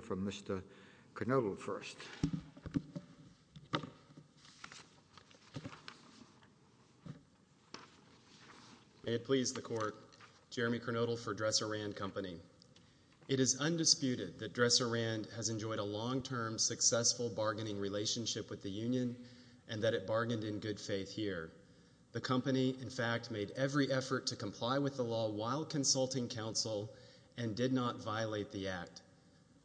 It is undisputed that Dresser-Rand has enjoyed a long-term, successful bargaining relationship with the union and that it bargained in good faith here. The company, in fact, made every effort to comply with the law while consulting counsel and did not violate the Act.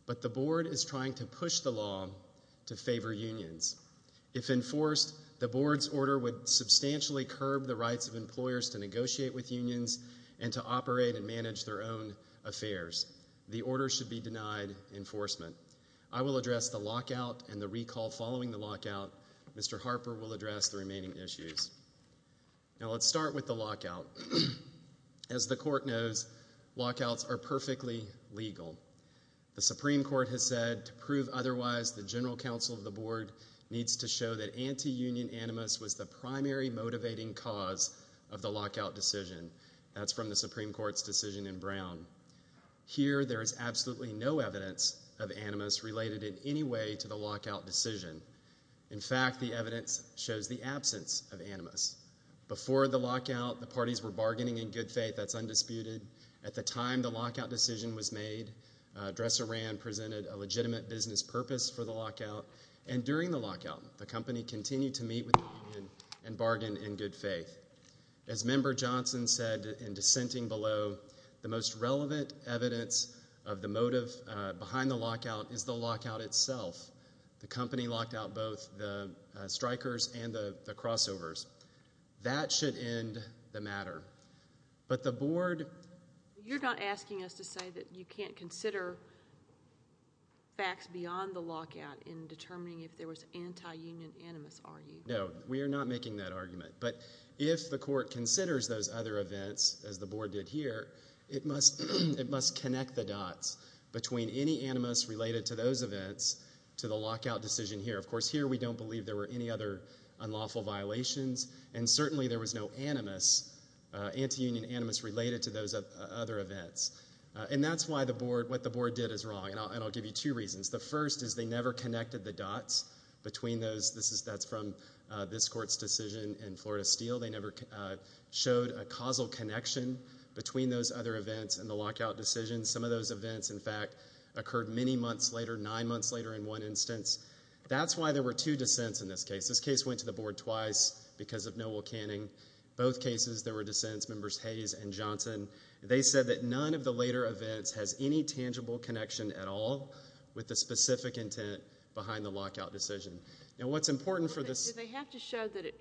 But the Board is trying to push the law to favor unions. If enforced, the Board's order would substantially curb the rights of employers to negotiate with unions and to operate and manage their own affairs. The order should be denied enforcement. I will address the lockout and the recall following the lockout. Mr. Harper will address the remaining issues. Now, let's start with the lockout. As the Court knows, lockouts are perfectly legal. The Supreme Court has said, to prove otherwise, the general counsel of the Board needs to show that anti-union animus was the primary motivating cause of the lockout decision. That's from the Supreme Court's decision in Brown. Here there is absolutely no evidence of animus related in any way to the lockout decision. In fact, the evidence shows the absence of animus. Before the lockout, the parties were bargaining in good faith. That's undisputed. At the time the lockout decision was made, Dresser Rand presented a legitimate business purpose for the lockout. And during the lockout, the company continued to meet with the union and bargain in good faith. As Member Johnson said in dissenting below, the most relevant evidence of the motive behind the lockout is the lockout itself. The company locked out both the strikers and the crossovers. That should end the matter. But the Board... You're not asking us to say that you can't consider facts beyond the lockout in determining if there was anti-union animus, are you? No, we are not making that argument. But if the Court considers those other events, as the Board did here, it must connect the to the lockout decision here. Of course, here we don't believe there were any other unlawful violations, and certainly there was no animus, anti-union animus related to those other events. And that's why what the Board did is wrong, and I'll give you two reasons. The first is they never connected the dots between those. That's from this Court's decision in Florida Steel. They never showed a causal connection between those other events and the lockout decision. Some of those events, in fact, occurred many months later, nine months later in one instance. That's why there were two dissents in this case. This case went to the Board twice because of Noel Canning. Both cases, there were dissents, members Hayes and Johnson. They said that none of the later events has any tangible connection at all with the specific intent behind the lockout decision. Now what's important for this... Do they have to show that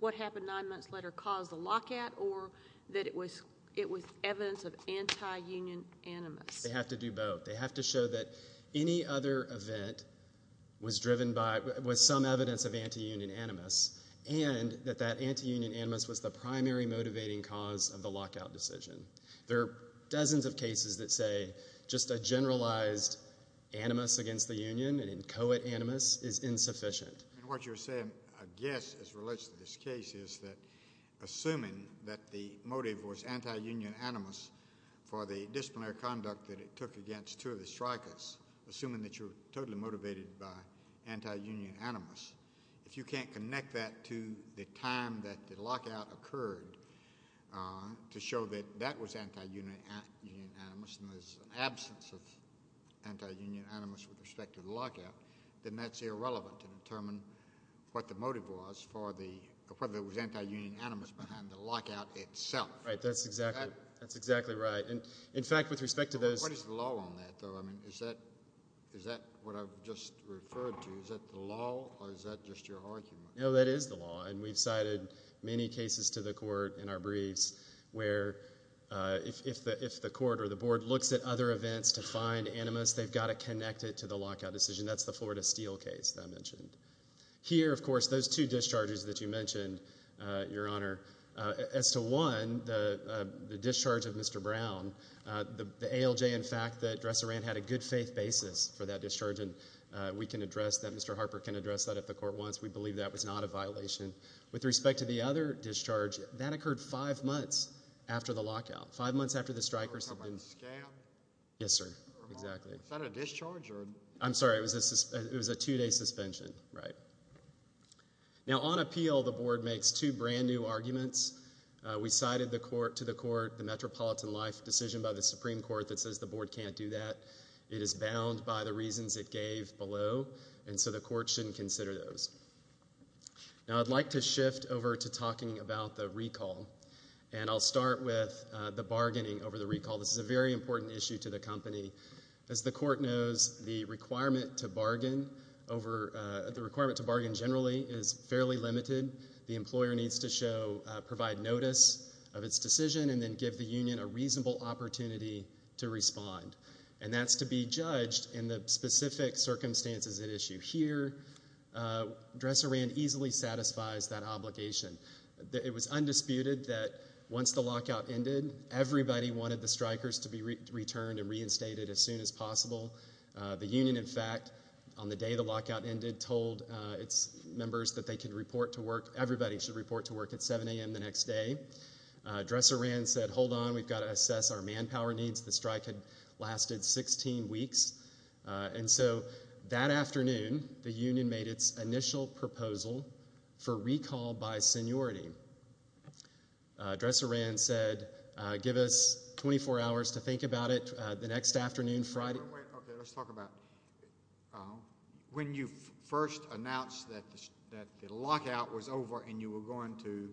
what happened nine months later caused the lockout, or that it was evidence of anti-union animus? They have to do both. They have to show that any other event was driven by...was some evidence of anti-union animus, and that that anti-union animus was the primary motivating cause of the lockout decision. There are dozens of cases that say just a generalized animus against the union, an inchoate animus, is insufficient. What you're saying, I guess, as it relates to this case, is that assuming that the motive was anti-union animus for the disciplinary conduct that it took against two of the strikers, assuming that you're totally motivated by anti-union animus, if you can't connect that to the time that the lockout occurred to show that that was anti-union animus, and there's an absence of anti-union animus with respect to the lockout, then that's irrelevant in determining what the motive was for the...whether it was anti-union animus behind the lockout itself. Right, that's exactly right. In fact, with respect to those... What is the law on that, though? I mean, is that what I've just referred to? Is that the law, or is that just your argument? No, that is the law, and we've cited many cases to the court in our briefs where if the court or the board looks at other events to find animus, they've got to connect it to the lockout decision. That's the Florida Steel case that I mentioned. Here, of course, those two discharges that you mentioned, Your Honor, as to one, the discharge of Mr. Brown, the ALJ, in fact, that Dresser ran had a good faith basis for that discharge, and we can address that. Mr. Harper can address that at the court once. We believe that was not a violation. With respect to the other discharge, that occurred five months after the lockout, five months after the strikers had been... Was that a scam? Yes, sir. Exactly. Was that a discharge, or... I'm sorry. It was a two-day suspension. Right. Now, on appeal, the board makes two brand-new arguments. We cited to the court the Metropolitan Life decision by the Supreme Court that says the board can't do that. It is bound by the reasons it gave below, and so the court shouldn't consider those. Now, I'd like to shift over to talking about the recall, and I'll start with the bargaining over the recall. This is a very important issue to the company. As the court knows, the requirement to bargain generally is fairly limited. The employer needs to provide notice of its decision and then give the union a reasonable opportunity to respond, and that's to be judged in the specific circumstances at issue here. Dresser ran easily satisfies that obligation. It was undisputed that once the lockout ended, everybody wanted the strikers to be returned and reinstated as soon as possible. The union, in fact, on the day the lockout ended, told its members that they could report to work, everybody should report to work at 7 a.m. the next day. Dresser ran and said, hold on, we've got to assess our manpower needs. The strike had lasted 16 weeks, and so that afternoon, the union made its initial proposal for recall by seniority. Dresser ran said, give us 24 hours to think about it the next afternoon, Friday. Okay, let's talk about when you first announced that the lockout was over and you were going to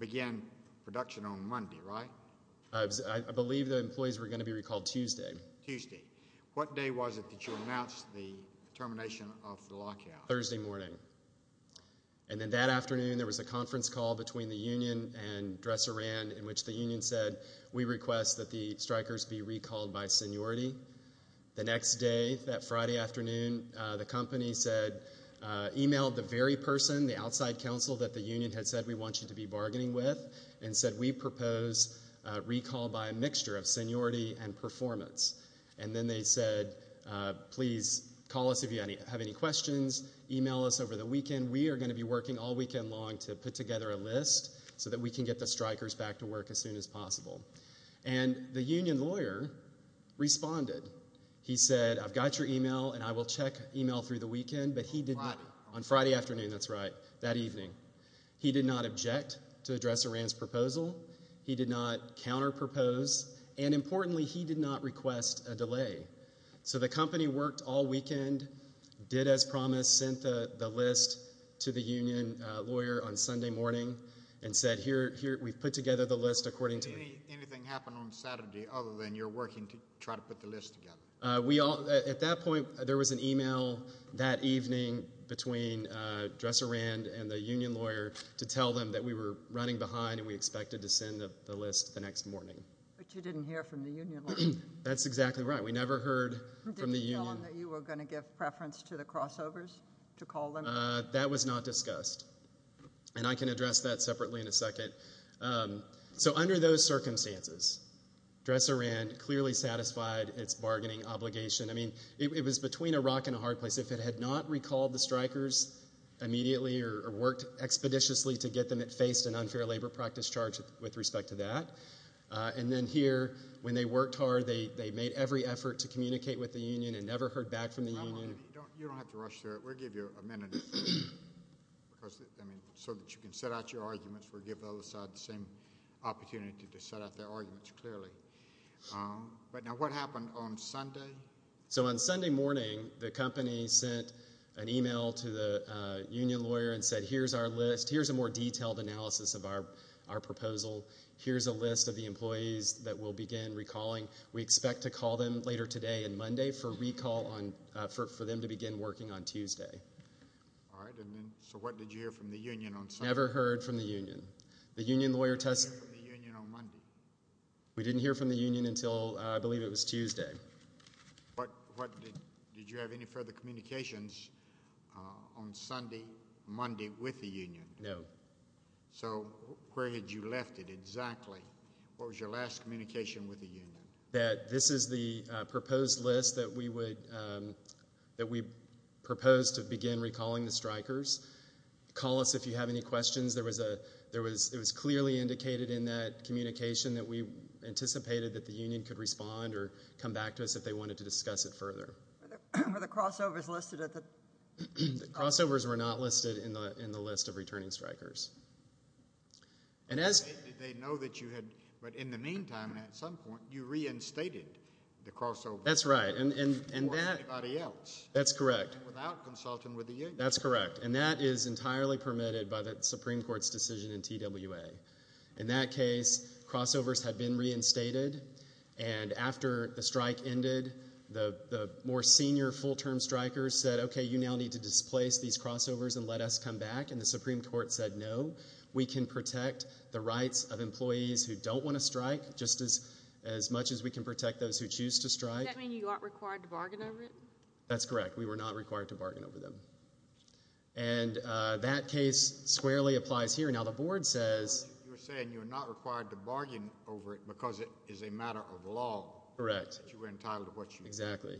begin production on Monday, right? I believe the employees were going to be recalled Tuesday. Tuesday. What day was it that you announced the termination of the lockout? Thursday morning. And then that afternoon, there was a conference call between the union and Dresser ran in which the union said, we request that the strikers be recalled by seniority. The next day, that Friday afternoon, the company said, emailed the very person, the outside counsel that the union had said we want you to be bargaining with, and said, we propose recall by a mixture of seniority and performance. And then they said, please call us if you have any questions, email us over the weekend. We are going to be working all weekend long to put together a list so that we can get the strikers back to work as soon as possible. And the union lawyer responded. He said, I've got your email and I will check email through the weekend, but he did not on Friday afternoon. That's right. That evening. He did not object to address a ransom proposal. He did not counter propose. And importantly, he did not request a delay. So the company worked all weekend, did as promised, sent the list to the union lawyer on Sunday morning and said, here, here, we've put together the list according to anything happened on Saturday other than you're working to try to put the list together. We all at that point, there was an email that evening between Dresser Rand and the union lawyer to tell them that we were running behind and we expected to send the list the next morning. But you didn't hear from the union lawyer. That's exactly right. We never heard from the union. Did you tell them that you were going to give preference to the crossovers to call them? That was not discussed. And I can address that separately in a second. So under those circumstances, Dresser Rand clearly satisfied its bargaining obligation. I mean, it was between a rock and a hard place. If it had not recalled the strikers immediately or worked expeditiously to get them, it faced an unfair labor practice charge with respect to that. And then here, when they worked hard, they made every effort to communicate with the union and never heard back from the union. You don't have to rush through it. We'll give you a minute. Because, I mean, so that you can set out your arguments, we'll give the other side the same opportunity to set out their arguments clearly. But now, what happened on Sunday? So on Sunday morning, the company sent an email to the union lawyer and said, here's our list. Here's a more detailed analysis of our proposal. Here's a list of the employees that we'll begin recalling. We expect to call them later today and Monday for a recall on, for them to begin working on Tuesday. All right. And then, so what did you hear from the union on Sunday? Never heard from the union. The union lawyer tested. What did you hear from the union on Monday? We didn't hear from the union until, I believe it was Tuesday. What, did you have any further communications on Sunday, Monday with the union? No. So where had you left it exactly? What was your last communication with the union? That this is the proposed list that we would, that we propose to begin recalling the strikers. Call us if you have any questions. There was a, there was, it was clearly indicated in that communication that we anticipated that the union could respond or come back to us if they wanted to discuss it further. Were the crossovers listed at the? Crossovers were not listed in the, in the list of returning strikers. And as. They know that you had, but in the meantime, at some point, you reinstated the crossover. That's right. And, and, and that. Or anybody else. That's correct. Without consulting with the union. That's correct. And that is entirely permitted by the Supreme Court's decision in TWA. In that case, crossovers had been reinstated, and after the strike ended, the, the more senior full-term strikers said, okay, you now need to displace these crossovers and let us come back. And the Supreme Court said, no, we can protect the rights of employees who don't want to strike just as, as much as we can protect those who choose to strike. Does that mean you aren't required to bargain over it? That's correct. We were not required to bargain over them. And that case squarely applies here. Now, the board says. You're saying you're not required to bargain over it because it is a matter of law. Correct. That you were entitled to what you were entitled to. Exactly.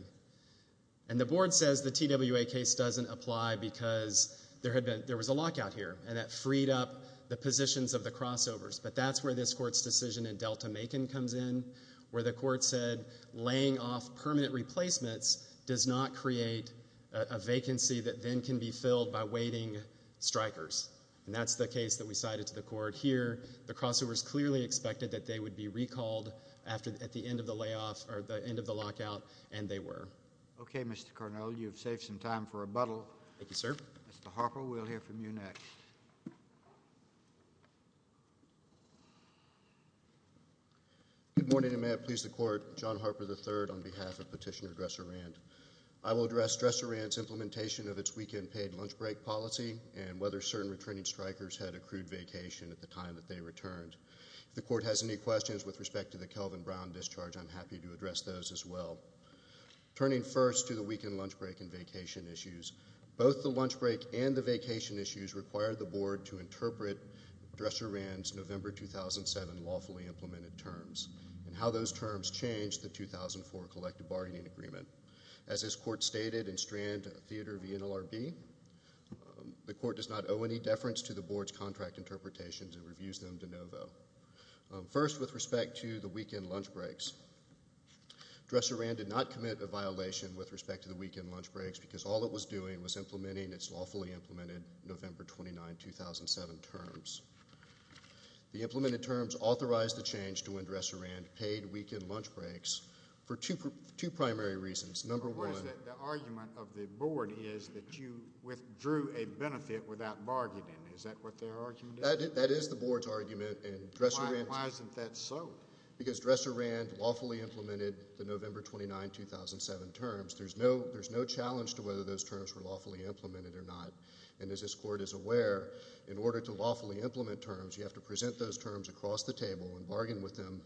And the board says the TWA case doesn't apply because there had been, there was a lockout here, and that freed up the positions of the crossovers. But that's where this court's decision in Delta-Macon comes in, where the court said laying off permanent replacements does not create a, a vacancy that then can be filled by waiting strikers. And that's the case that we cited to the court here. The crossovers clearly expected that they would be recalled after, at the end of the layoff, or at the end of the lockout, and they were. Okay, Mr. Carnell, you've saved some time for rebuttal. Thank you, sir. Mr. Harper, we'll hear from you next. Good morning, and may it please the Court. John Harper III on behalf of Petitioner Dresserand. I will address Dresserand's implementation of its weekend paid lunch break policy and whether certain returning strikers had accrued vacation at the time that they returned. If the Court has any questions with respect to the Kelvin Brown discharge, I'm happy to address those as well. Turning first to the weekend lunch break and vacation issues, both the lunch break and the vacation issues required the Board to interpret Dresserand's November 2007 lawfully implemented terms and how those terms changed the 2004 collective bargaining agreement. As this Court stated in Strand, Theodore v. NLRB, the Court does not owe any deference to the Board's contract interpretations and reviews them de novo. First with respect to the weekend lunch breaks, Dresserand did not commit a violation with respect to the weekend lunch breaks because all it was doing was implementing its lawfully implemented November 29, 2007 terms. The implemented terms authorized the change to when Dresserand paid weekend lunch breaks for two primary reasons. Number one. The argument of the Board is that you withdrew a benefit without bargaining. Is that what their argument is? That is the Board's argument. Why isn't that so? Because Dresserand lawfully implemented the November 29, 2007 terms. There's no challenge to whether those terms were lawfully implemented or not. And as this Court is aware, in order to lawfully implement terms, you have to present those terms when you implement them.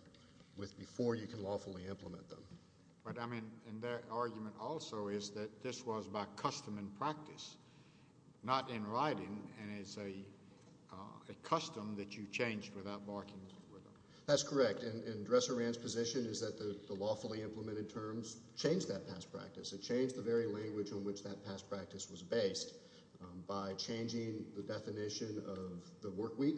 But, I mean, and their argument also is that this was by custom and practice, not in writing, and it's a custom that you changed without bargaining with them. That's correct. And Dresserand's position is that the lawfully implemented terms changed that past practice. It changed the very language on which that past practice was based by changing the definition of the work week.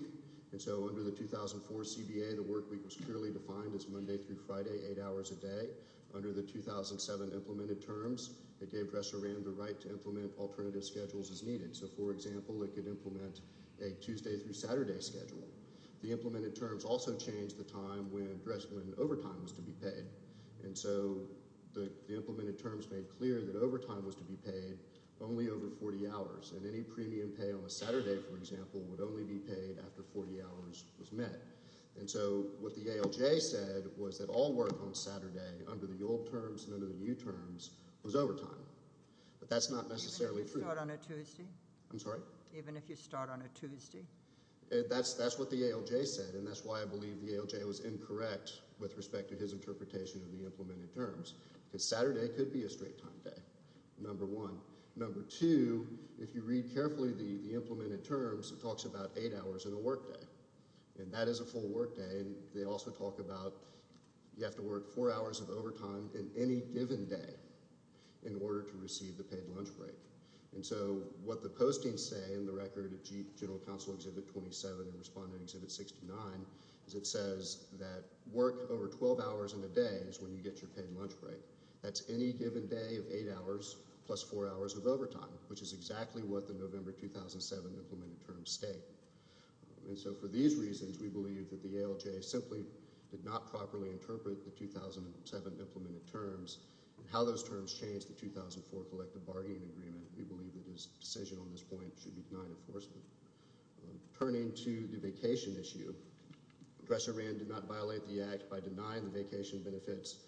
And so under the 2004 CBA, the work week was clearly defined as Monday through Friday, eight hours a day. Under the 2007 implemented terms, it gave Dresserand the right to implement alternative schedules as needed. So, for example, it could implement a Tuesday through Saturday schedule. The implemented terms also changed the time when overtime was to be paid. And so the implemented terms made clear that overtime was to be paid only over 40 hours. And any premium pay on a Saturday, for example, would only be paid after 40 hours was met. And so what the ALJ said was that all work on Saturday, under the old terms and under the new terms, was overtime. But that's not necessarily true. Even if you start on a Tuesday? I'm sorry? Even if you start on a Tuesday? That's what the ALJ said, and that's why I believe the ALJ was incorrect with respect to his interpretation of the implemented terms, because Saturday could be a straight-time day, number one. Number two, if you read carefully the implemented terms, it talks about eight hours and a workday. And that is a full workday. They also talk about you have to work four hours of overtime in any given day in order to receive the paid lunch break. And so what the postings say in the record of General Counsel Exhibit 27 and Respondent Exhibit 69 is it says that work over 12 hours in a day is when you get your paid lunch break. That's any given day of eight hours plus four hours of overtime, which is exactly what the November 2007 implemented terms state. And so for these reasons, we believe that the ALJ simply did not properly interpret the 2007 implemented terms and how those terms changed the 2004 collective bargaining agreement. We believe that his decision on this point should be denied enforcement. Turning to the vacation issue, Address Iran did not violate the Act by denying the vacation benefits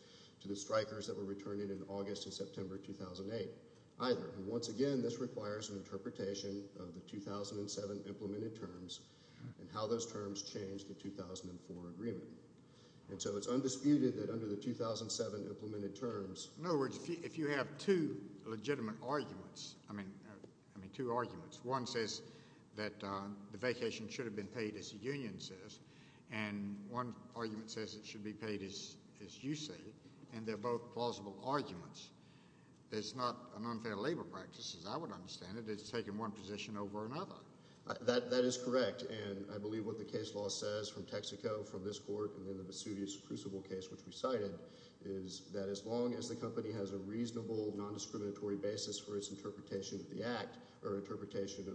to the strikers that were returning in August and September 2008, either. And once again, this requires an interpretation of the 2007 implemented terms and how those terms changed the 2004 agreement. And so it's undisputed that under the 2007 implemented terms— In other words, if you have two legitimate arguments, I mean two arguments, one says that the vacation should have been paid as the union says, and one argument says it should be paid as you say. And they're both plausible arguments. It's not an unfair labor practice, as I would understand it. It's taking one position over another. That is correct. And I believe what the case law says from Texaco, from this court, and then the Vesuvius Crucible case, which we cited, is that as long as the company has a reasonable, nondiscriminatory basis for its interpretation of the Act or interpretation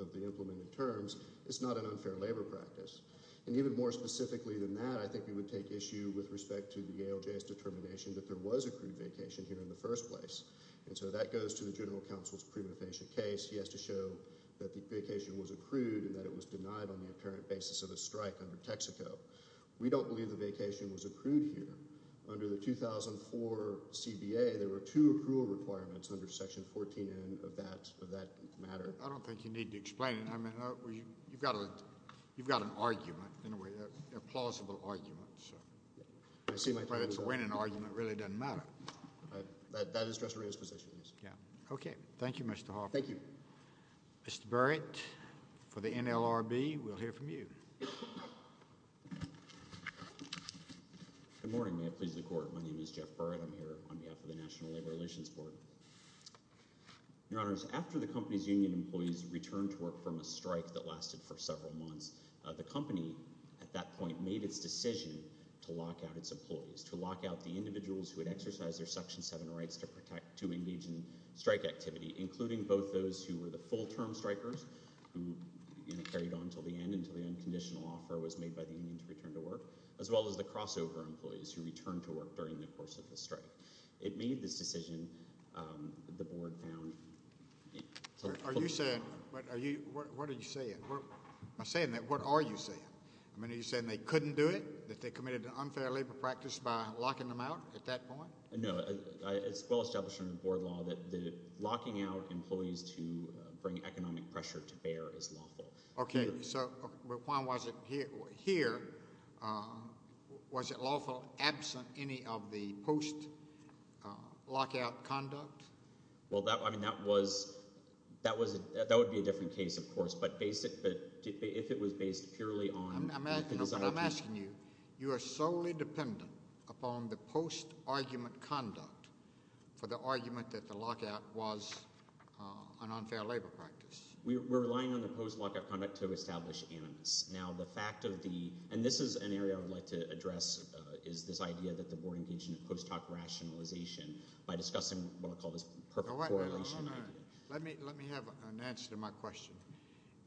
of the implemented terms, it's not an unfair labor practice. And even more specifically than that, I think we would take issue with respect to the ALJ's determination that there was accrued vacation here in the first place. And so that goes to the General Counsel's prima facie case. He has to show that the vacation was accrued and that it was denied on the apparent basis of a strike under Texaco. We don't believe the vacation was accrued here. Under the 2004 CBA, there were two accrual requirements under Section 14N of that matter. I don't think you need to explain it. I mean, you've got an argument, in a way, a plausible argument. So to win an argument really doesn't matter. That is Dr. Rios' position, yes. Okay. Thank you, Mr. Hoffman. Thank you. Mr. Barrett for the NLRB. We'll hear from you. Good morning. May it please the Court. My name is Jeff Barrett. I'm here on behalf of the National Labor Relations Board. Your Honors, after the company's union employees returned to work from a strike that lasted for several months, the company at that point made its decision to lock out its employees, to lock out the individuals who had exercised their Section 7 rights to engage in strike activity, including both those who were the full-term strikers, who carried on until the end, until the unconditional offer was made by the union to return to work, as well as the crossover employees who returned to work during the course of the strike. It made this decision. The Board found... Are you saying... What are you saying? Am I saying that? What are you saying? I mean, are you saying they couldn't do it, that they committed an unfair labor practice by locking them out at that point? No. It's well established in the Board law that locking out employees to bring economic pressure to bear is lawful. Okay. So why was it here? Was it lawful, absent any of the post-lockout conduct? Well, I mean, that was... That would be a different case, of course, but if it was based purely on... I'm asking you, you are solely dependent upon the post-argument conduct for the argument that the lockout was an unfair labor practice. We're relying on the post-lockout conduct to establish animus. Now, the fact of the... And this is an area I would like to address, is this idea that the Board engaged in a post-talk rationalization by discussing what I call this perfect correlation idea. Let me have an answer to my question.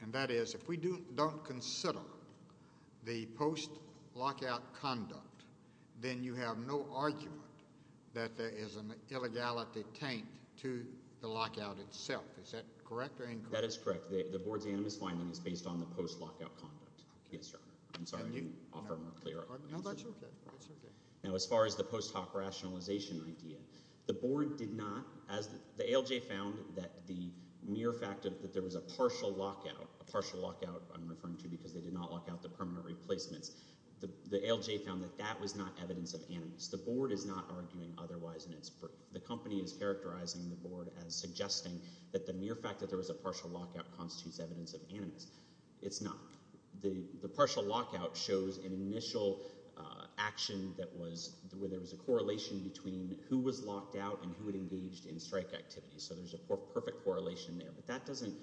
And that is, if we don't consider the post-lockout conduct, then you have no argument that there is an illegality taint to the lockout itself. Is that correct or incorrect? That is correct. The Board's animus finding is based on the post-lockout conduct. Yes, Your Honor. I'm sorry, I didn't offer a more clear argument. No, that's okay. That's okay. Now, as far as the post-talk rationalization idea, the Board did not... The ALJ found that the mere fact that there was a partial lockout, a partial lockout I'm referring to because they did not lock out the permanent replacements, the ALJ found that that was not evidence of animus. The Board is not arguing otherwise in its proof. The company is characterizing the Board as suggesting that the mere fact that there was a partial lockout constitutes evidence of animus. It's not. The partial lockout shows an initial action where there was a correlation between who was locked out and who had engaged in strike activity. So there's a perfect correlation there. But that doesn't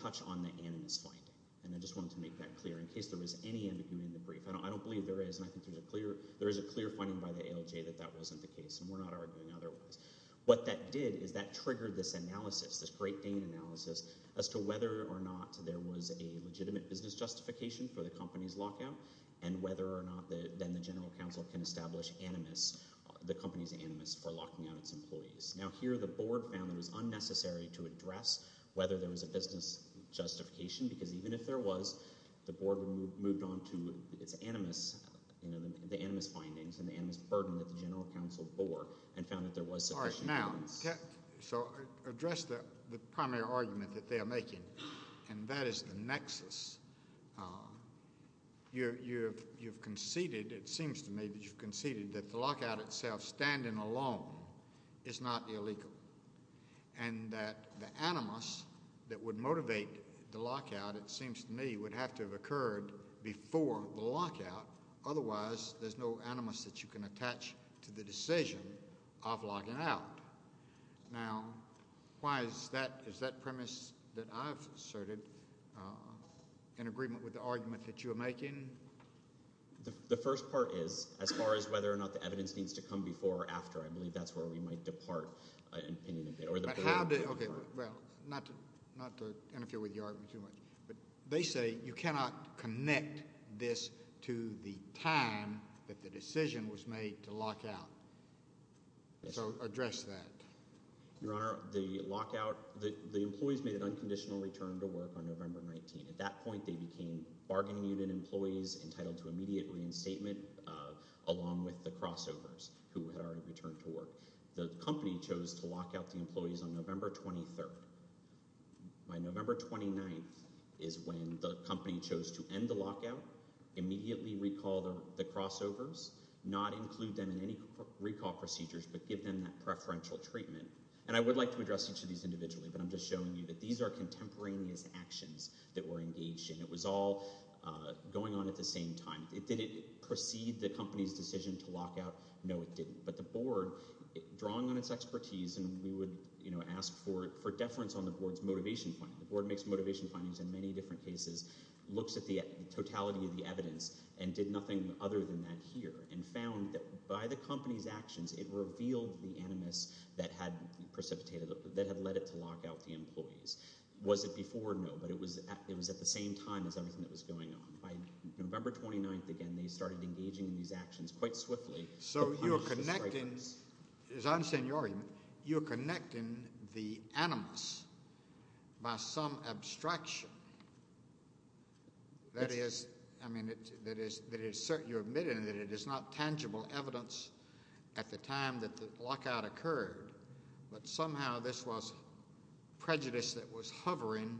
touch on the animus finding. And I just wanted to make that clear in case there was any ambiguity in the brief. I don't believe there is, and I think there is a clear finding by the ALJ that that wasn't the case, and we're not arguing otherwise. What that did is that triggered this analysis, this Great Dane analysis, as to whether or not there was a legitimate business justification for the company's lockout, and whether or not then the General Counsel can establish animus, the company's animus for locking out its employees. Now here the Board found it was unnecessary to address whether there was a business justification because even if there was, the Board moved on to its animus, the animus findings and the animus burden that the General Counsel bore and found that there was sufficient evidence. All right. Now, so address the primary argument that they are making, and that is the nexus. You've conceded, it seems to me that you've conceded that the lockout itself, standing alone, is not illegal, and that the animus that would motivate the lockout, it seems to me, would have to have occurred before the lockout. Otherwise, there's no animus that you can attach to the decision of locking out. Now, why is that? Is that premise that I've asserted in agreement with the argument that you are making? The first part is, as far as whether or not the evidence needs to come before or after, I believe that's where we might depart an opinion. Okay. Well, not to interfere with your argument too much, but they say you cannot connect this to the time that the decision was made to lock out. So address that. Your Honor, the lockout, the employees made an unconditional return to work on November 19. At that point, they became bargaining unit employees entitled to immediate reinstatement along with the crossovers who had already returned to work. The company chose to lock out the employees on November 23rd. By November 29th is when the company chose to end the lockout, immediately recall the crossovers, not include them in any recall procedures, but give them that preferential treatment. And I would like to address each of these individually, but I'm just showing you that these are contemporaneous actions that were engaged in. It was all going on at the same time. Did it precede the company's decision to lockout? No, it didn't. But the Board, drawing on its expertise, and we would, you know, ask for deference on the Board's motivation finding. The Board makes motivation findings in many different cases, looks at the totality of the evidence, and did nothing other than that here, and found that by the company's actions, it revealed the animus that had precipitated, that had led it to lock out the employees. Was it before? No, but it was at the same time as everything that was going on. By November 29th, again, they started engaging in these actions quite swiftly. So you're connecting, as I understand your argument, you're connecting the animus by some abstraction. That is, I mean, you're admitting that it is not tangible evidence at the time that the lockout occurred, but somehow this was prejudice that was hovering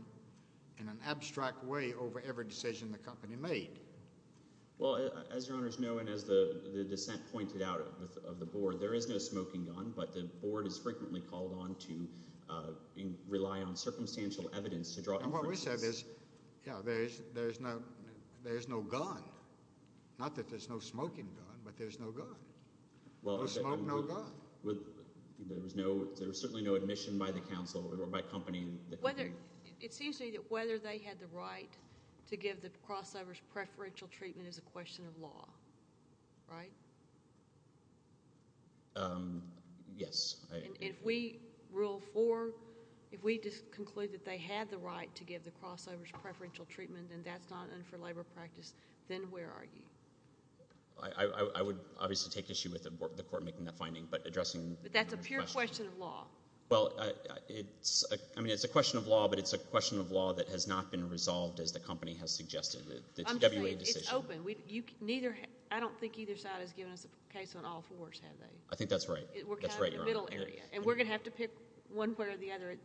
in an abstract way over every decision the company made. Well, as your Honors know, and as the dissent pointed out of the Board, there is no smoking gun, but the Board is frequently called on to rely on circumstantial evidence to draw inferences. And what we said is, yeah, there is no gun. Not that there's no smoking gun, but there's no gun. No smoke, no gun. There was certainly no admission by the counsel or by company. It seems to me that whether they had the right to give the crossovers preferential treatment is a question of law, right? Yes. And if we rule for, if we just conclude that they had the right to give the crossovers preferential treatment and that's not under labor practice, then where are you? I would obviously take issue with the Court making that finding, but addressing— But that's a pure question of law. Well, I mean, it's a question of law, but it's a question of law that has not been resolved as the company has suggested. I'm just saying, it's open. I don't think either side has given us a case on all fours, have they? I think that's right. We're kind of in the middle area, and we're going to have to pick one way or the other.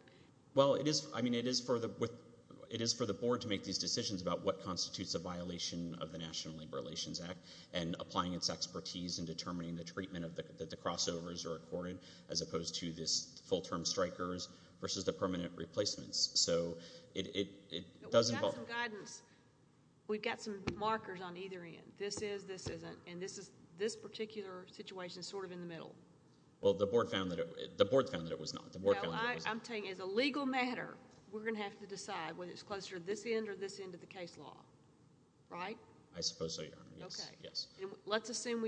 Well, I mean, it is for the Board to make these decisions about what constitutes a violation of the National Labor Relations Act and applying its expertise in determining the treatment that the crossovers are accorded as opposed to this full-term strikers versus the permanent replacements. So it does involve— But we've got some guidance. We've got some markers on either end. This is, this isn't, and this particular situation is sort of in the middle. Well, the Board found that it was not. I'm saying as a legal matter, we're going to have to decide whether it's closer to this end or this end of the case law, right? I suppose so, Your Honor, yes. Okay. Let's assume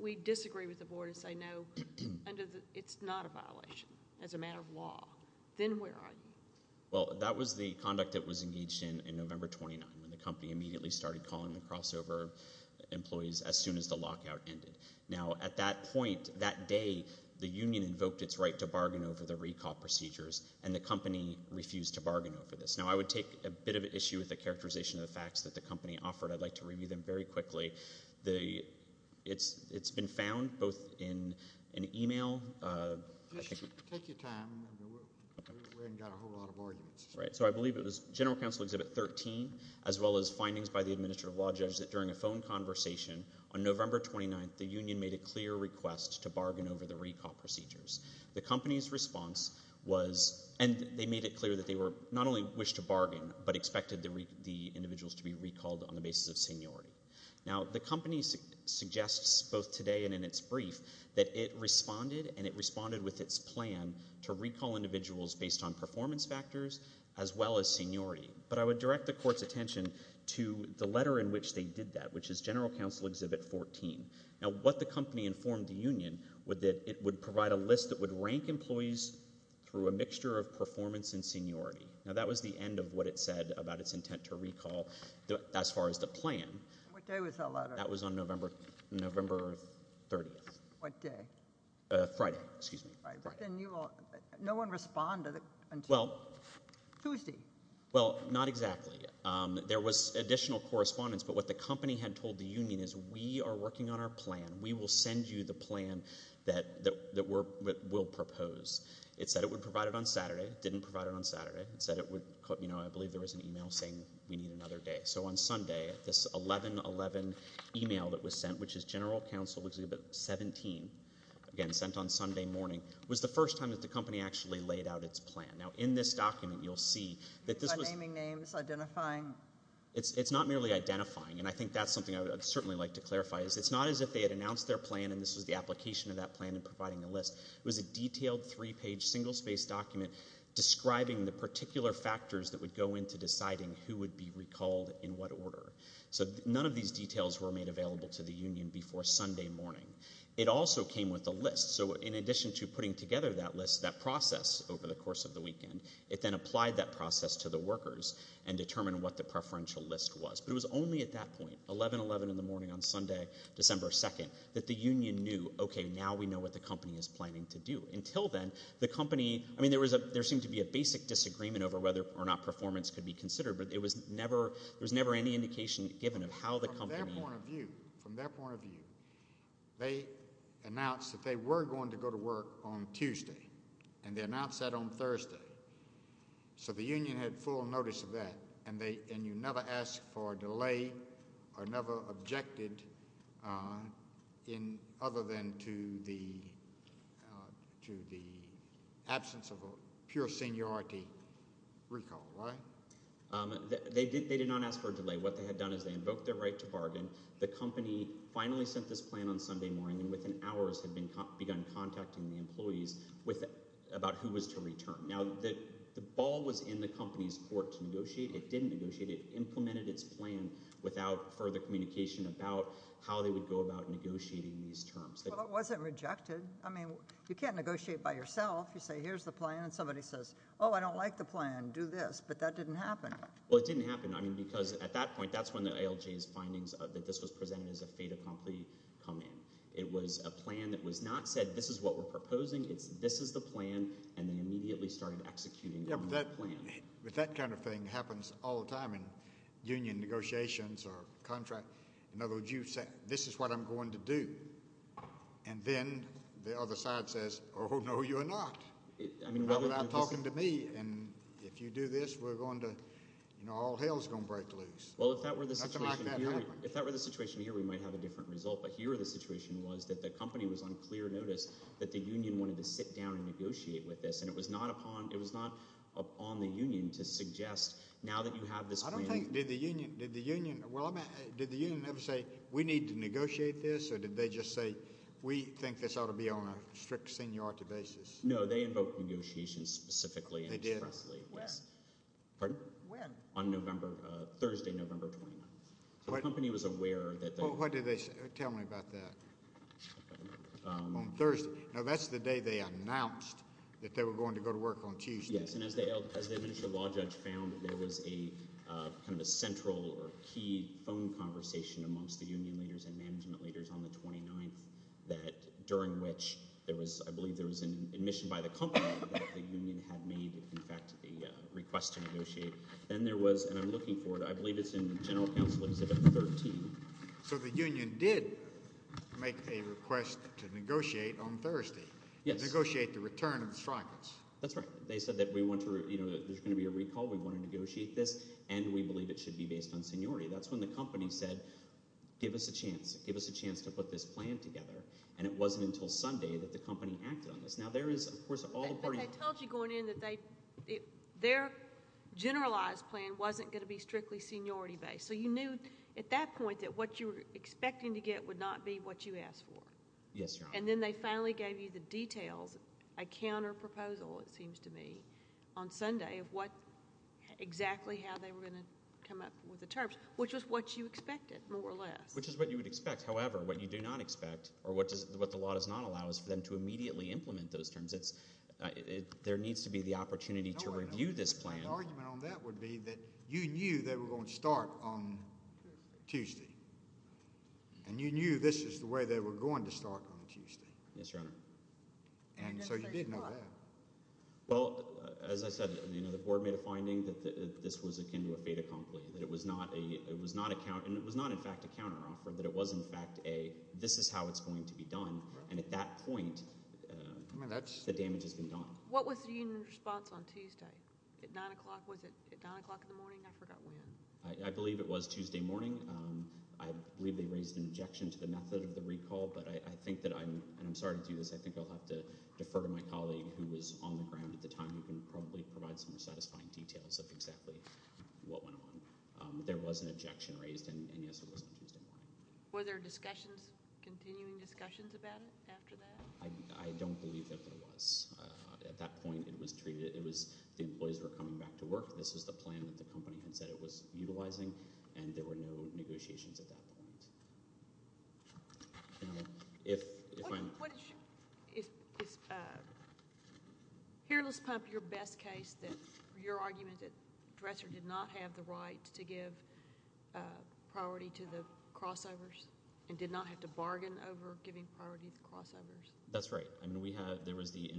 we disagree with the Board and say, no, it's not a violation as a matter of law. Then where are you? Well, that was the conduct that was engaged in November 29, when the company immediately started calling the crossover employees as soon as the lockout ended. Now, at that point, that day, the union invoked its right to bargain over the recall procedures, and the company refused to bargain over this. Now, I would take a bit of an issue with the characterization of the facts that the company offered. I'd like to review them very quickly. It's been found both in an email. Take your time. We haven't got a whole lot of arguments. Right. So I believe it was General Counsel Exhibit 13, as well as findings by the Administrative Law Judge that during a phone conversation on November 29, the union made a clear request to bargain over the recall procedures. The company's response was, and they made it clear that they not only wished to bargain but expected the individuals to be recalled on the basis of seniority. Now, the company suggests both today and in its brief that it responded, and it responded with its plan to recall individuals based on performance factors as well as seniority. But I would direct the Court's attention to the letter in which they did that, which is General Counsel Exhibit 14. Now, what the company informed the union was that it would provide a list that would rank employees through a mixture of performance and seniority. Now, that was the end of what it said about its intent to recall as far as the plan. What day was that letter? That was on November 30th. What day? Friday. No one responded until Tuesday? Well, not exactly. There was additional correspondence, but what the company had told the union is, we are working on our plan. We will send you the plan that we'll propose. It said it would provide it on Saturday. It didn't provide it on Saturday. It said it would, you know, I believe there was an e-mail saying we need another day. So on Sunday, this 11-11 e-mail that was sent, which is General Counsel Exhibit 17, again, sent on Sunday morning, was the first time that the company actually laid out its plan. Now, in this document, you'll see that this was... By naming names, identifying. It's not merely identifying, and I think that's something I would certainly like to clarify. It's not as if they had announced their plan and this was the application of that plan and providing a list. It was a detailed three-page single-space document describing the particular factors that would go into deciding who would be recalled in what order. So none of these details were made available to the union before Sunday morning. It also came with a list. So in addition to putting together that list, that process over the course of the weekend, it then applied that process to the workers and determined what the preferential list was. But it was only at that point, 11-11 in the morning on Sunday, December 2nd, that the union knew, okay, now we know what the company is planning to do. Until then, the company... I mean, there seemed to be a basic disagreement over whether or not performance could be considered, but there was never any indication given of how the company... From their point of view, they announced that they were going to go to work on Tuesday, and they announced that on Thursday. So the union had full notice of that, and you never asked for a delay or never objected other than to the absence of a pure seniority recall, right? They did not ask for a delay. What they had done is they invoked their right to bargain. The company finally sent this plan on Sunday morning, and within hours had begun contacting the employees about who was to return. It implemented its plan without further communication about how they would go about negotiating these terms. Well, it wasn't rejected. I mean, you can't negotiate by yourself. You say, here's the plan, and somebody says, oh, I don't like the plan. Do this. But that didn't happen. Well, it didn't happen, I mean, because at that point, that's when the ALJ's findings that this was presented as a fait accompli come in. It was a plan that was not said, this is what we're proposing. It's this is the plan, and they immediately started executing on that plan. But that kind of thing happens all the time in union negotiations or contracts. In other words, you say, this is what I'm going to do. And then the other side says, oh, no, you're not. You're not talking to me. And if you do this, we're going to, you know, all hell's going to break loose. Well, if that were the situation here, we might have a different result. But here the situation was that the company was on clear notice that the union wanted to sit down and negotiate with this. And it was not upon the union to suggest, now that you have this plan. I don't think, did the union ever say, we need to negotiate this? Or did they just say, we think this ought to be on a strict seniority basis? No, they invoked negotiations specifically and expressly. They did? When? Pardon? When? On Thursday, November 29th. So the company was aware. Well, what did they tell me about that? On Thursday. No, that's the day they announced that they were going to go to work on Tuesday. Yes, and as the administrative law judge found, there was a kind of a central or key phone conversation amongst the union leaders and management leaders on the 29th, that during which there was, I believe there was an admission by the company that the union had made, in fact, a request to negotiate. Then there was, and I'm looking for it, I believe it's in General Counsel Exhibit 13. So the union did make a request to negotiate on Thursday. Yes. Negotiate the return of the strikers. That's right. They said that we want to, you know, there's going to be a recall. We want to negotiate this, and we believe it should be based on seniority. That's when the company said, give us a chance. Give us a chance to put this plan together. And it wasn't until Sunday that the company acted on this. Now, there is, of course, all the parties. But they told you going in that their generalized plan wasn't going to be strictly seniority based. So you knew at that point that what you were expecting to get would not be what you asked for. Yes, Your Honor. And then they finally gave you the details, a counterproposal it seems to me, on Sunday of what exactly how they were going to come up with the terms, which was what you expected more or less. Which is what you would expect. However, what you do not expect or what the law does not allow is for them to immediately implement those terms. There needs to be the opportunity to review this plan. The argument on that would be that you knew they were going to start on Tuesday. And you knew this is the way they were going to start on Tuesday. Yes, Your Honor. And so you did know that. Well, as I said, the board made a finding that this was akin to a fait accompli, that it was not in fact a counteroffer, that it was in fact a this is how it's going to be done. And at that point, the damage has been done. What was the union response on Tuesday at 9 o'clock? Was it at 9 o'clock in the morning? I forgot when. I believe it was Tuesday morning. I believe they raised an objection to the method of the recall. But I think that I'm sorry to do this. I think I'll have to defer to my colleague who was on the ground at the time who can probably provide some satisfying details of exactly what went on. There was an objection raised, and, yes, it was on Tuesday morning. Were there discussions, continuing discussions about it after that? I don't believe that there was. At that point, it was treated, it was the employees were coming back to work. This was the plan that the company had said it was utilizing, and there were no negotiations at that point. If I'm— Is Heirless Pump your best case that your argument that Dresser did not have the right to give priority to the crossovers and did not have to bargain over giving priority to the crossovers? That's right. In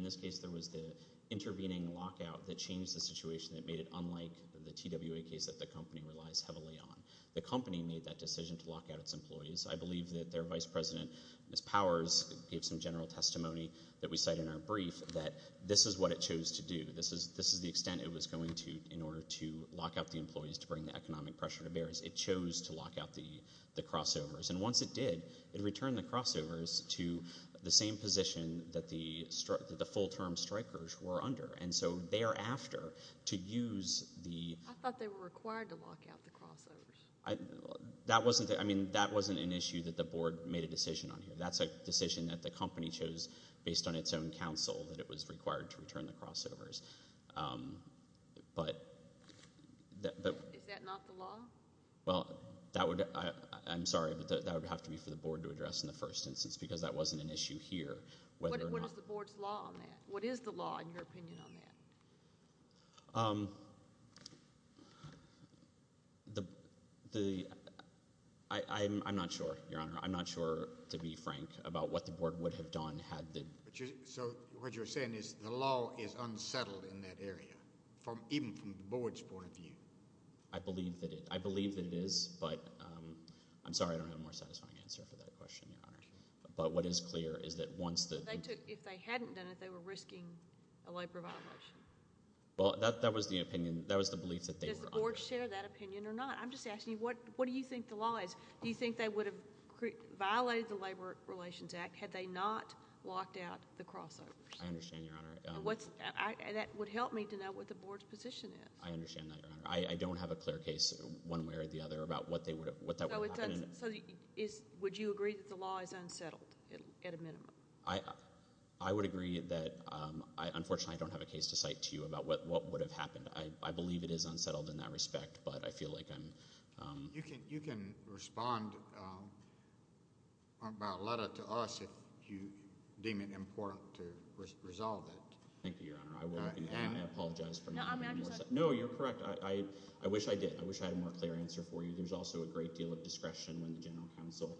this case, there was the intervening lockout that changed the situation that made it unlike the TWA case that the company relies heavily on. The company made that decision to lock out its employees. I believe that their vice president, Ms. Powers, gave some general testimony that we cite in our brief that this is what it chose to do. This is the extent it was going to in order to lock out the employees to bring the economic pressure to bear. It chose to lock out the crossovers. And once it did, it returned the crossovers to the same position that the full-term strikers were under. And so thereafter, to use the— I thought they were required to lock out the crossovers. That wasn't an issue that the board made a decision on here. That's a decision that the company chose based on its own counsel that it was required to return the crossovers. But— Is that not the law? Well, I'm sorry, but that would have to be for the board to address in the first instance because that wasn't an issue here. What is the board's law on that? What is the law, in your opinion, on that? I'm not sure, Your Honor. I'm not sure, to be frank, about what the board would have done had the— So what you're saying is the law is unsettled in that area, even from the board's point of view? I believe that it is, but— I'm sorry, I don't have a more satisfying answer for that question, Your Honor. But what is clear is that once the— If they hadn't done it, they were risking a labor violation. Well, that was the opinion. That was the belief that they were under. Does the board share that opinion or not? I'm just asking you, what do you think the law is? Do you think they would have violated the Labor Relations Act had they not locked out the crossovers? I understand, Your Honor. That would help me to know what the board's position is. I understand that, Your Honor. I don't have a clear case one way or the other about what that would have happened. So would you agree that the law is unsettled at a minimum? I would agree that— Unfortunately, I don't have a case to cite to you about what would have happened. I believe it is unsettled in that respect, but I feel like I'm— You can respond about a letter to us if you deem it important to resolve it. Thank you, Your Honor. I will, and I apologize for— No, I mean, I'm just— No, you're correct. I wish I did. I wish I had a more clear answer for you. There's also a great deal of discretion when the general counsel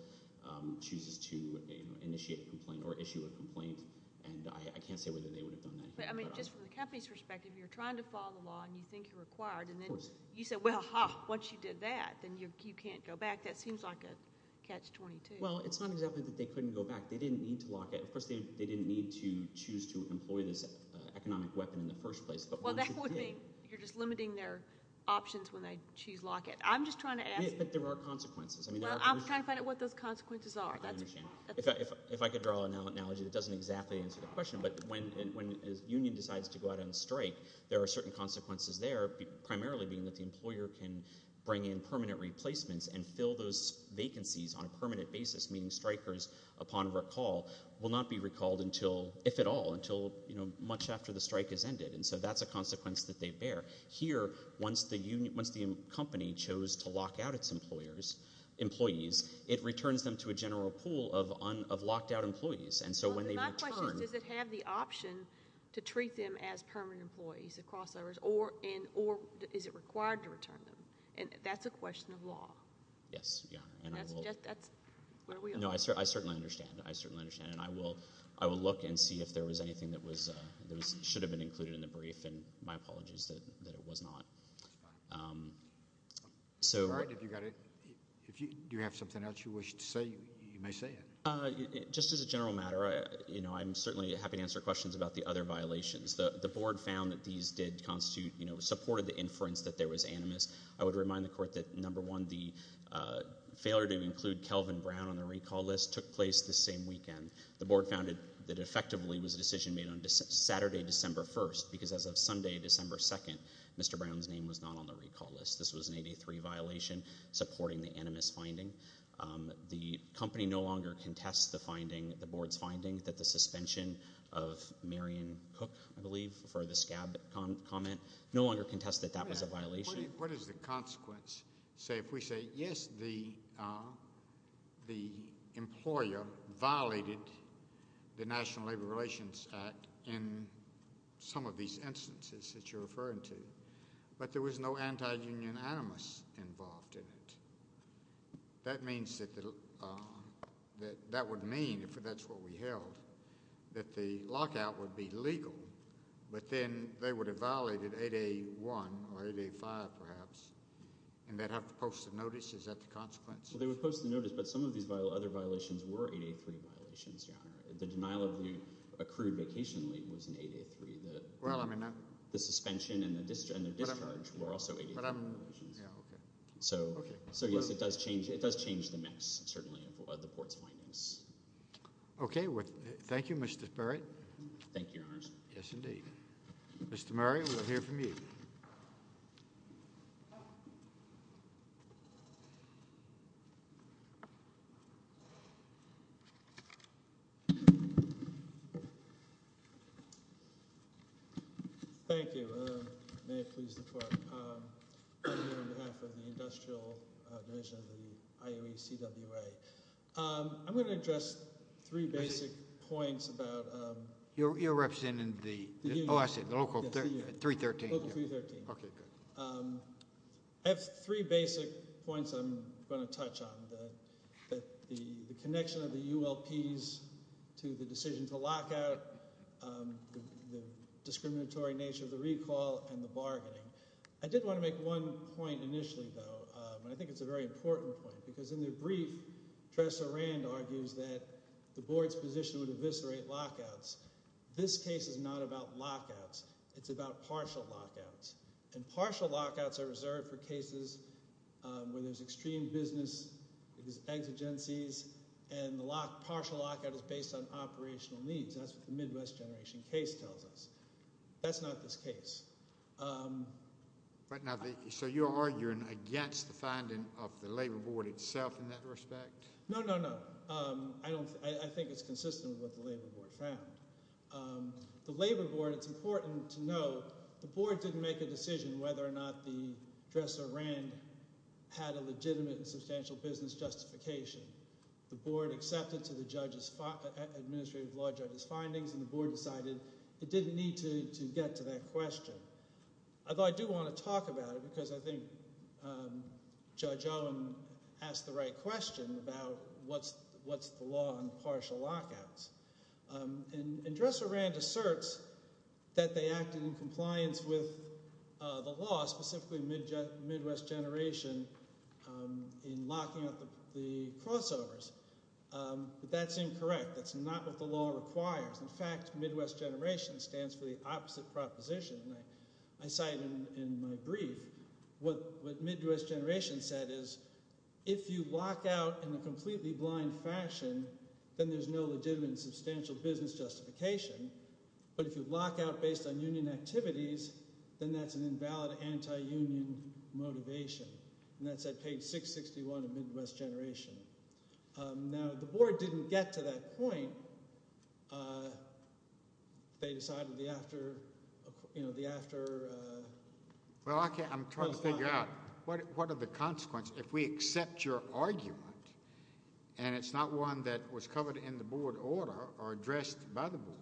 chooses to initiate a complaint or issue a complaint, and I can't say whether they would have done that. But, I mean, just from the company's perspective, you're trying to follow the law and you think you're required. Of course. You said, well, once you did that, then you can't go back. That seems like a catch-22. Well, it's not exactly that they couldn't go back. They didn't need to lock it. Of course, they didn't need to choose to employ this economic weapon in the first place. Well, that would mean you're just limiting their options when they choose lock it. I'm just trying to ask— But there are consequences. I'm trying to find out what those consequences are. I understand. If I could draw an analogy that doesn't exactly answer the question, but when a union decides to go out on strike, there are certain consequences there, primarily being that the employer can bring in permanent replacements and fill those vacancies on a permanent basis, meaning strikers, upon recall, will not be recalled, if at all, until much after the strike has ended. And so that's a consequence that they bear. Here, once the company chose to lock out its employees, it returns them to a general pool of locked-out employees. And so when they return— My question is, does it have the option to treat them as permanent employees, or is it required to return them? That's a question of law. Yes. I certainly understand. I certainly understand. And I will look and see if there was anything that should have been included in the brief, and my apologies that it was not. If you have something else you wish to say, you may say it. Just as a general matter, I'm certainly happy to answer questions about the other violations. The Board found that these did constitute—supported the inference that there was animus. I would remind the Court that, number one, the failure to include Kelvin Brown on the recall list took place this same weekend. The Board found that it effectively was a decision made on Saturday, December 1st, because as of Sunday, December 2nd, Mr. Brown's name was not on the recall list. This was an 83 violation supporting the animus finding. The company no longer contests the finding, the Board's finding, that the suspension of Marion Cook, I believe, for the scab comment, no longer contests that that was a violation. What does the consequence say? If we say, yes, the employer violated the National Labor Relations Act in some of these instances that you're referring to, but there was no anti-union animus involved in it, that means that—that would mean, if that's what we held, that the lockout would be legal, but then they would have violated 8A1 or 8A5, perhaps, and they'd have to post a notice. Is that the consequence? Well, they would post a notice, but some of these other violations were 8A3 violations, Your Honor. The denial of the accrued vacation leave was an 8A3. The suspension and the discharge were also 8A3 violations. So, yes, it does change the mix, certainly, of the Board's findings. Okay. Thank you, Mr. Merritt. Thank you, Your Honors. Yes, indeed. Mr. Merritt, we'll hear from you. Thank you. May it please the Court. I'm here on behalf of the Industrial Division of the IOE CWA. I'm going to address three basic points about— You're representing the—oh, I see, the Local 313. Local 313. Okay, good. I have three basic points I'm going to touch on, the connection of the ULPs to the decision to lockout, the discriminatory nature of the recall, and the bargaining. I did want to make one point initially, though, and I think it's a very important point, because in the brief, Tressa Rand argues that the Board's position would eviscerate lockouts. This case is not about lockouts. It's about partial lockouts. And partial lockouts are reserved for cases where there's extreme business exigencies, and the partial lockout is based on operational needs. That's what the Midwest Generation case tells us. That's not this case. But now, so you're arguing against the finding of the Labor Board itself in that respect? No, no, no. I think it's consistent with what the Labor Board found. The Labor Board, it's important to note, the Board didn't make a decision whether or not Tressa Rand had a legitimate and substantial business justification. The Board accepted to the administrative law judge's findings, and the Board decided it didn't need to get to that question. Although I do want to talk about it, because I think Judge Owen asked the right question about what's the law on partial lockouts. And Tressa Rand asserts that they acted in compliance with the law, specifically Midwest Generation, in locking up the crossovers. But that's incorrect. That's not what the law requires. In fact, Midwest Generation stands for the opposite proposition. I cite in my brief what Midwest Generation said is, if you lock out in a completely blind fashion, then there's no legitimate and substantial business justification. But if you lock out based on union activities, then that's an invalid anti-union motivation. And that's at page 661 of Midwest Generation. Now, the Board didn't get to that point. They decided the after, you know, the after. Well, I'm trying to figure out what are the consequences if we accept your argument, and it's not one that was covered in the Board order or addressed by the Board,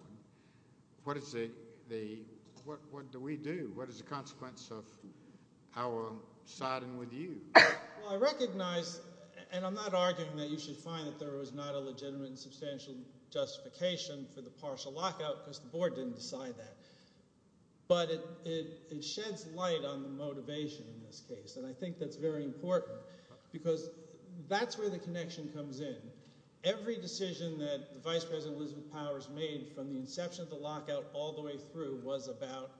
what do we do? What is the consequence of our siding with you? Well, I recognize, and I'm not arguing that you should find that there was not a legitimate and substantial justification for the partial lockout because the Board didn't decide that. But it sheds light on the motivation in this case, and I think that's very important because that's where the connection comes in. Every decision that Vice President Elizabeth Powers made from the inception of the lockout all the way through was about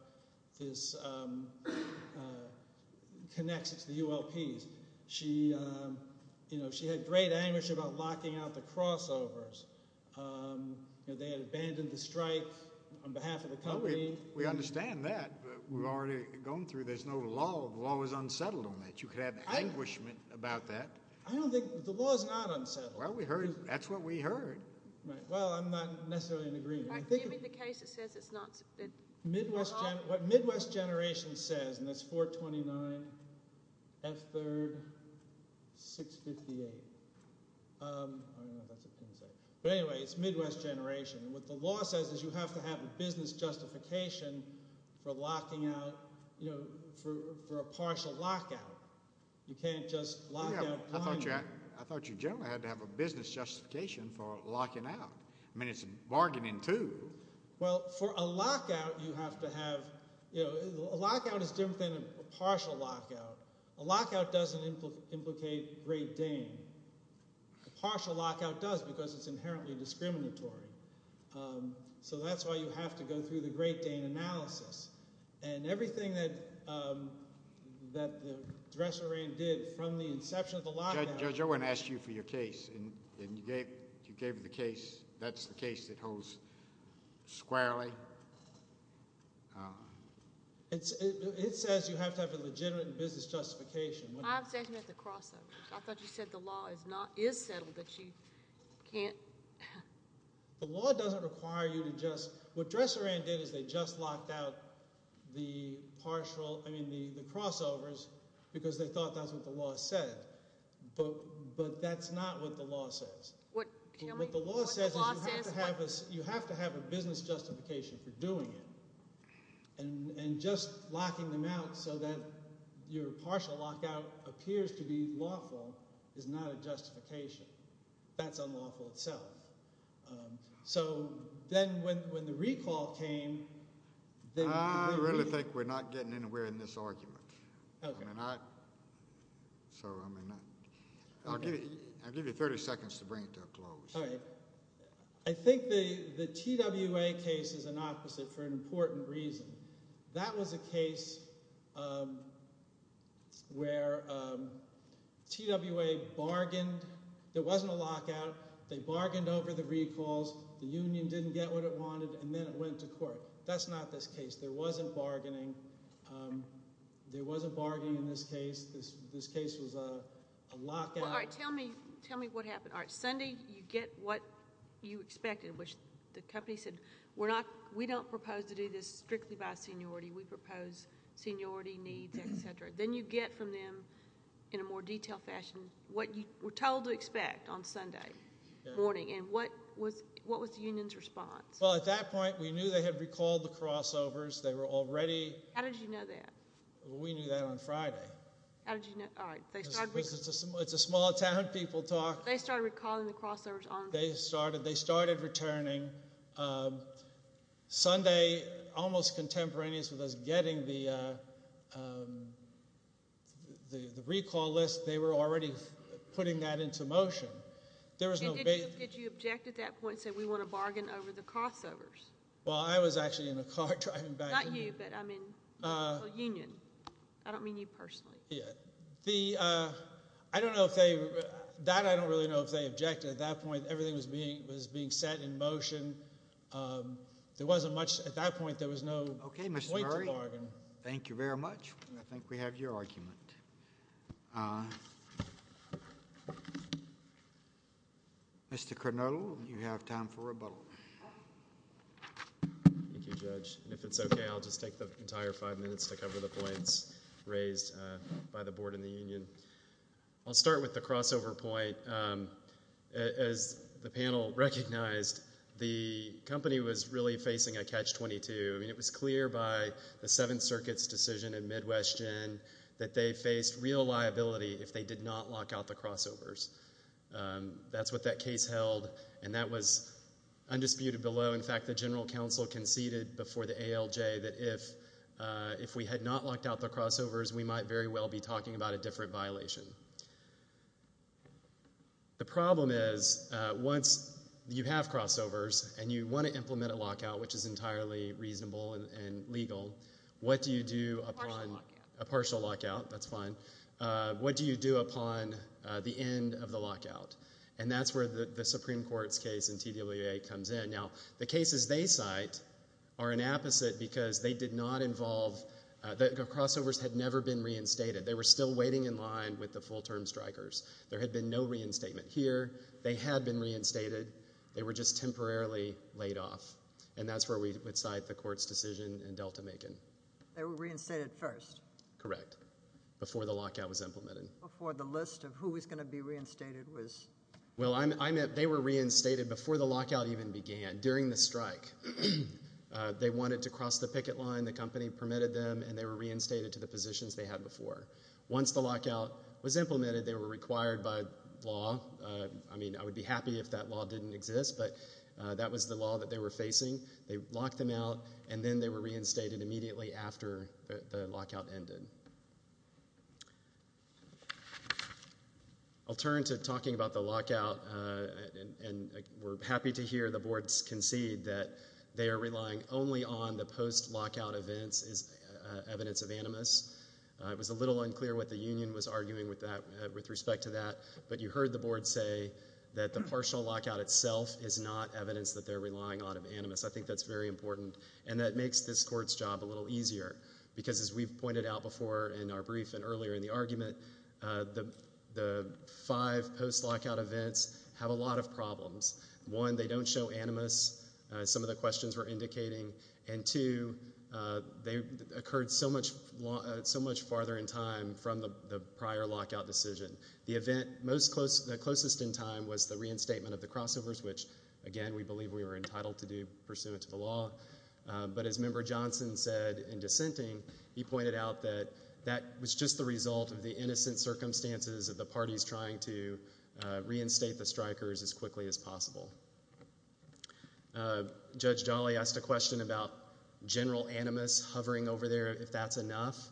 this connection to the ULPs. She had great anguish about locking out the crossovers. They had abandoned the strike on behalf of the company. We understand that. We've already gone through this. The law is unsettled on that. But you could have anguishment about that. I don't think the law is not unsettled. Well, we heard. That's what we heard. Well, I'm not necessarily in agreement. Do you mean the case that says it's not? What Midwest Generation says, and that's 429 F3rd 658. I don't know what that's a pin say. But anyway, it's Midwest Generation. What the law says is you have to have a business justification for a partial lockout. You can't just lock out one. I thought you generally had to have a business justification for locking out. I mean, it's bargaining, too. Well, for a lockout, you have to have – a lockout is different than a partial lockout. A lockout doesn't implicate Great Dane. A partial lockout does because it's inherently discriminatory. So that's why you have to go through the Great Dane analysis. And everything that the Dresselring did from the inception of the lockout – Judge, I want to ask you for your case. You gave the case. That's the case that holds squarely. It says you have to have a legitimate business justification. I was asking about the crossovers. I thought you said the law is settled, but you can't – The law doesn't require you to just – what Dresselring did is they just locked out the partial – I mean, the crossovers because they thought that's what the law said. But that's not what the law says. What the law says is you have to have a business justification for doing it. And just locking them out so that your partial lockout appears to be lawful is not a justification. That's unlawful itself. So then when the recall came – I really think we're not getting anywhere in this argument. I mean, I – I'll give you 30 seconds to bring it to a close. All right. I think the TWA case is an opposite for an important reason. That was a case where TWA bargained. There wasn't a lockout. They bargained over the recalls. The union didn't get what it wanted, and then it went to court. That's not this case. There wasn't bargaining. There wasn't bargaining in this case. This case was a lockout. All right. Tell me what happened. All right. Sunday you get what you expected, which the company said, we don't propose to do this strictly by seniority. We propose seniority needs, et cetera. Then you get from them in a more detailed fashion what you were told to expect on Sunday morning. And what was the union's response? Well, at that point we knew they had recalled the crossovers. They were already – How did you know that? We knew that on Friday. How did you know – all right. It's a small-town people talk. They started recalling the crossovers on – they started returning Sunday, almost contemporaneous with us getting the recall list. They were already putting that into motion. Did you object at that point and say, we want to bargain over the crossovers? Well, I was actually in a car driving back. Not you, but, I mean, the union. I don't mean you personally. I don't know if they – that I don't really know if they objected. At that point everything was being set in motion. There wasn't much – at that point there was no point to bargain. Okay, Mr. Murray. Thank you very much. I think we have your argument. Mr. Curnow, you have time for rebuttal. Thank you, Judge. If it's okay, I'll just take the entire five minutes to cover the points raised by the board and the union. I'll start with the crossover point. As the panel recognized, the company was really facing a catch-22. I mean, it was clear by the Seventh Circuit's decision in Midwest Gen that they faced real liability if they did not lock out the crossovers. That's what that case held, and that was undisputed below. In fact, the general counsel conceded before the ALJ that if we had not locked out the crossovers, we might very well be talking about a different violation. The problem is once you have crossovers and you want to implement a lockout, which is entirely reasonable and legal, what do you do upon – Partial lockout. A partial lockout. That's fine. What do you do upon the end of the lockout? And that's where the Supreme Court's case in TWA comes in. Now, the cases they cite are an apposite because they did not involve – the crossovers had never been reinstated. They were still waiting in line with the full-term strikers. There had been no reinstatement here. They had been reinstated. They were just temporarily laid off, and that's where we would cite the court's decision in Delta-Macon. They were reinstated first? Correct, before the lockout was implemented. Before the list of who was going to be reinstated was – Well, I meant they were reinstated before the lockout even began, during the strike. They wanted to cross the picket line. The company permitted them, and they were reinstated to the positions they had before. Once the lockout was implemented, they were required by law. I mean, I would be happy if that law didn't exist, but that was the law that they were facing. They locked them out, and then they were reinstated immediately after the lockout ended. I'll turn to talking about the lockout, and we're happy to hear the boards concede that they are relying only on the post-lockout events as evidence of animus. It was a little unclear what the union was arguing with respect to that, but you heard the board say that the partial lockout itself is not evidence that they're relying on of animus. I think that's very important, and that makes this court's job a little easier because, as we've pointed out before in our brief and earlier in the argument, the five post-lockout events have a lot of problems. One, they don't show animus, as some of the questions were indicating, and two, they occurred so much farther in time from the prior lockout decision. The event closest in time was the reinstatement of the crossovers, which, again, we believe we were entitled to do pursuant to the law. But as Member Johnson said in dissenting, he pointed out that that was just the result of the innocent circumstances of the parties trying to reinstate the strikers as quickly as possible. Judge Jolly asked a question about general animus hovering over there, if that's enough.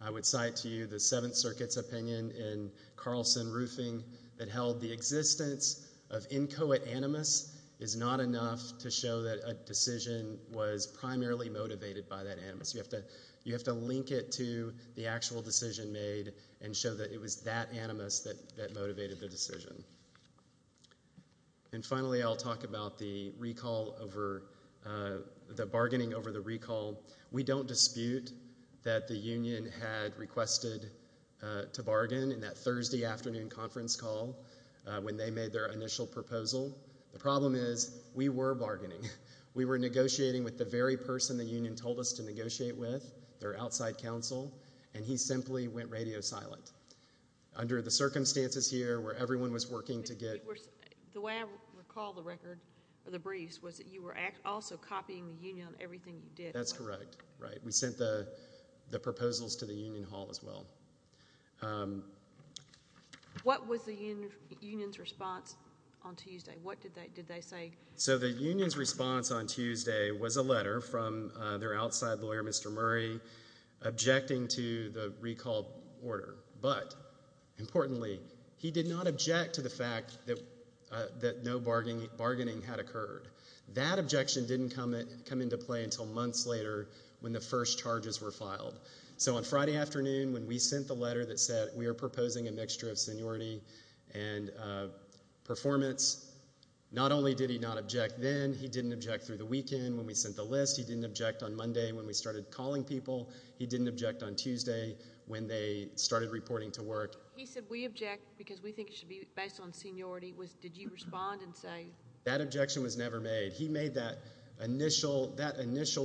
I would cite to you the Seventh Circuit's opinion in Carlson Roofing that held the existence of inchoate animus is not enough to show that a decision was primarily motivated by that animus. You have to link it to the actual decision made and show that it was that animus that motivated the decision. And finally, I'll talk about the bargaining over the recall. We don't dispute that the union had requested to bargain in that Thursday afternoon conference call when they made their initial proposal. The problem is we were bargaining. We were negotiating with the very person the union told us to negotiate with, their outside counsel, and he simply went radio silent. Under the circumstances here where everyone was working to get— The way I recall the record, or the briefs, was that you were also copying the union on everything you did. That's correct, right. We sent the proposals to the union hall as well. What was the union's response on Tuesday? What did they say? So the union's response on Tuesday was a letter from their outside lawyer, Mr. Murray, objecting to the recall order. But, importantly, he did not object to the fact that no bargaining had occurred. That objection didn't come into play until months later when the first charges were filed. So on Friday afternoon, when we sent the letter that said we were proposing a mixture of seniority and performance, not only did he not object then, he didn't object through the weekend when we sent the list. He didn't object on Monday when we started calling people. He didn't object on Tuesday when they started reporting to work. He said we object because we think it should be based on seniority. Did you respond and say— That objection was never made. He made that initial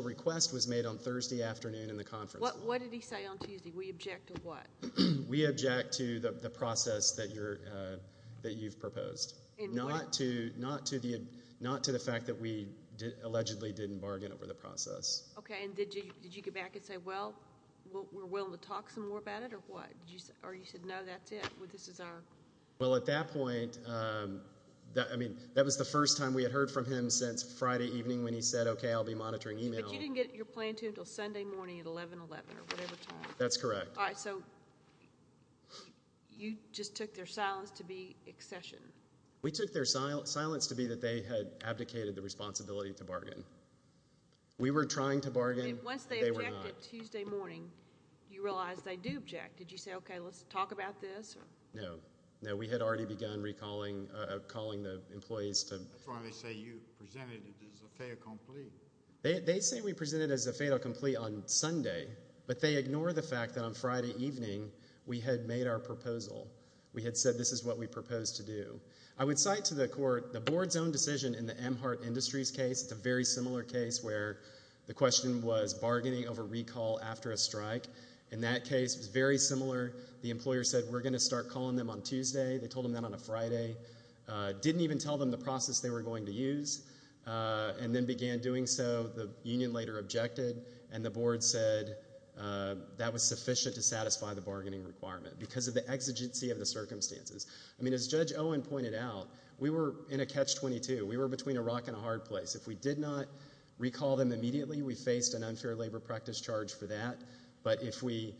request was made on Thursday afternoon in the conference room. What did he say on Tuesday? We object to what? We object to the process that you've proposed, not to the fact that we allegedly didn't bargain over the process. Okay, and did you get back and say, well, we're willing to talk some more about it, or what? Or you said, no, that's it, this is our— Well, at that point, I mean, that was the first time we had heard from him since Friday evening when he said, okay, I'll be monitoring email. But you didn't get your plan to him until Sunday morning at 11-11 or whatever time. That's correct. All right, so you just took their silence to be accession. We took their silence to be that they had abdicated the responsibility to bargain. We were trying to bargain. Once they objected Tuesday morning, you realized they do object. Did you say, okay, let's talk about this? No. No, we had already begun recalling the employees to— That's why they say you presented it as a fait accompli. They say we presented it as a fait accompli on Sunday, but they ignore the fact that on Friday evening we had made our proposal. We had said this is what we propose to do. I would cite to the Court the Board's own decision in the Amhart Industries case. It's a very similar case where the question was bargaining over recall after a strike. In that case, it was very similar. The employer said we're going to start calling them on Tuesday. They told them that on a Friday. Didn't even tell them the process they were going to use and then began doing so. The union later objected, and the Board said that was sufficient to satisfy the bargaining requirement because of the exigency of the circumstances. I mean, as Judge Owen pointed out, we were in a catch-22. We were between a rock and a hard place. If we did not recall them immediately, we faced an unfair labor practice charge for that. But if we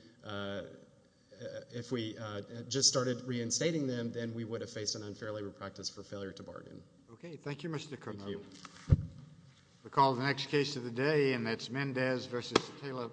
just started reinstating them, then we would have faced an unfair labor practice for failure to bargain. Okay. Thank you, Mr. Cook. Thank you. We'll call the next case of the day, and that's Mendez v. Taylor.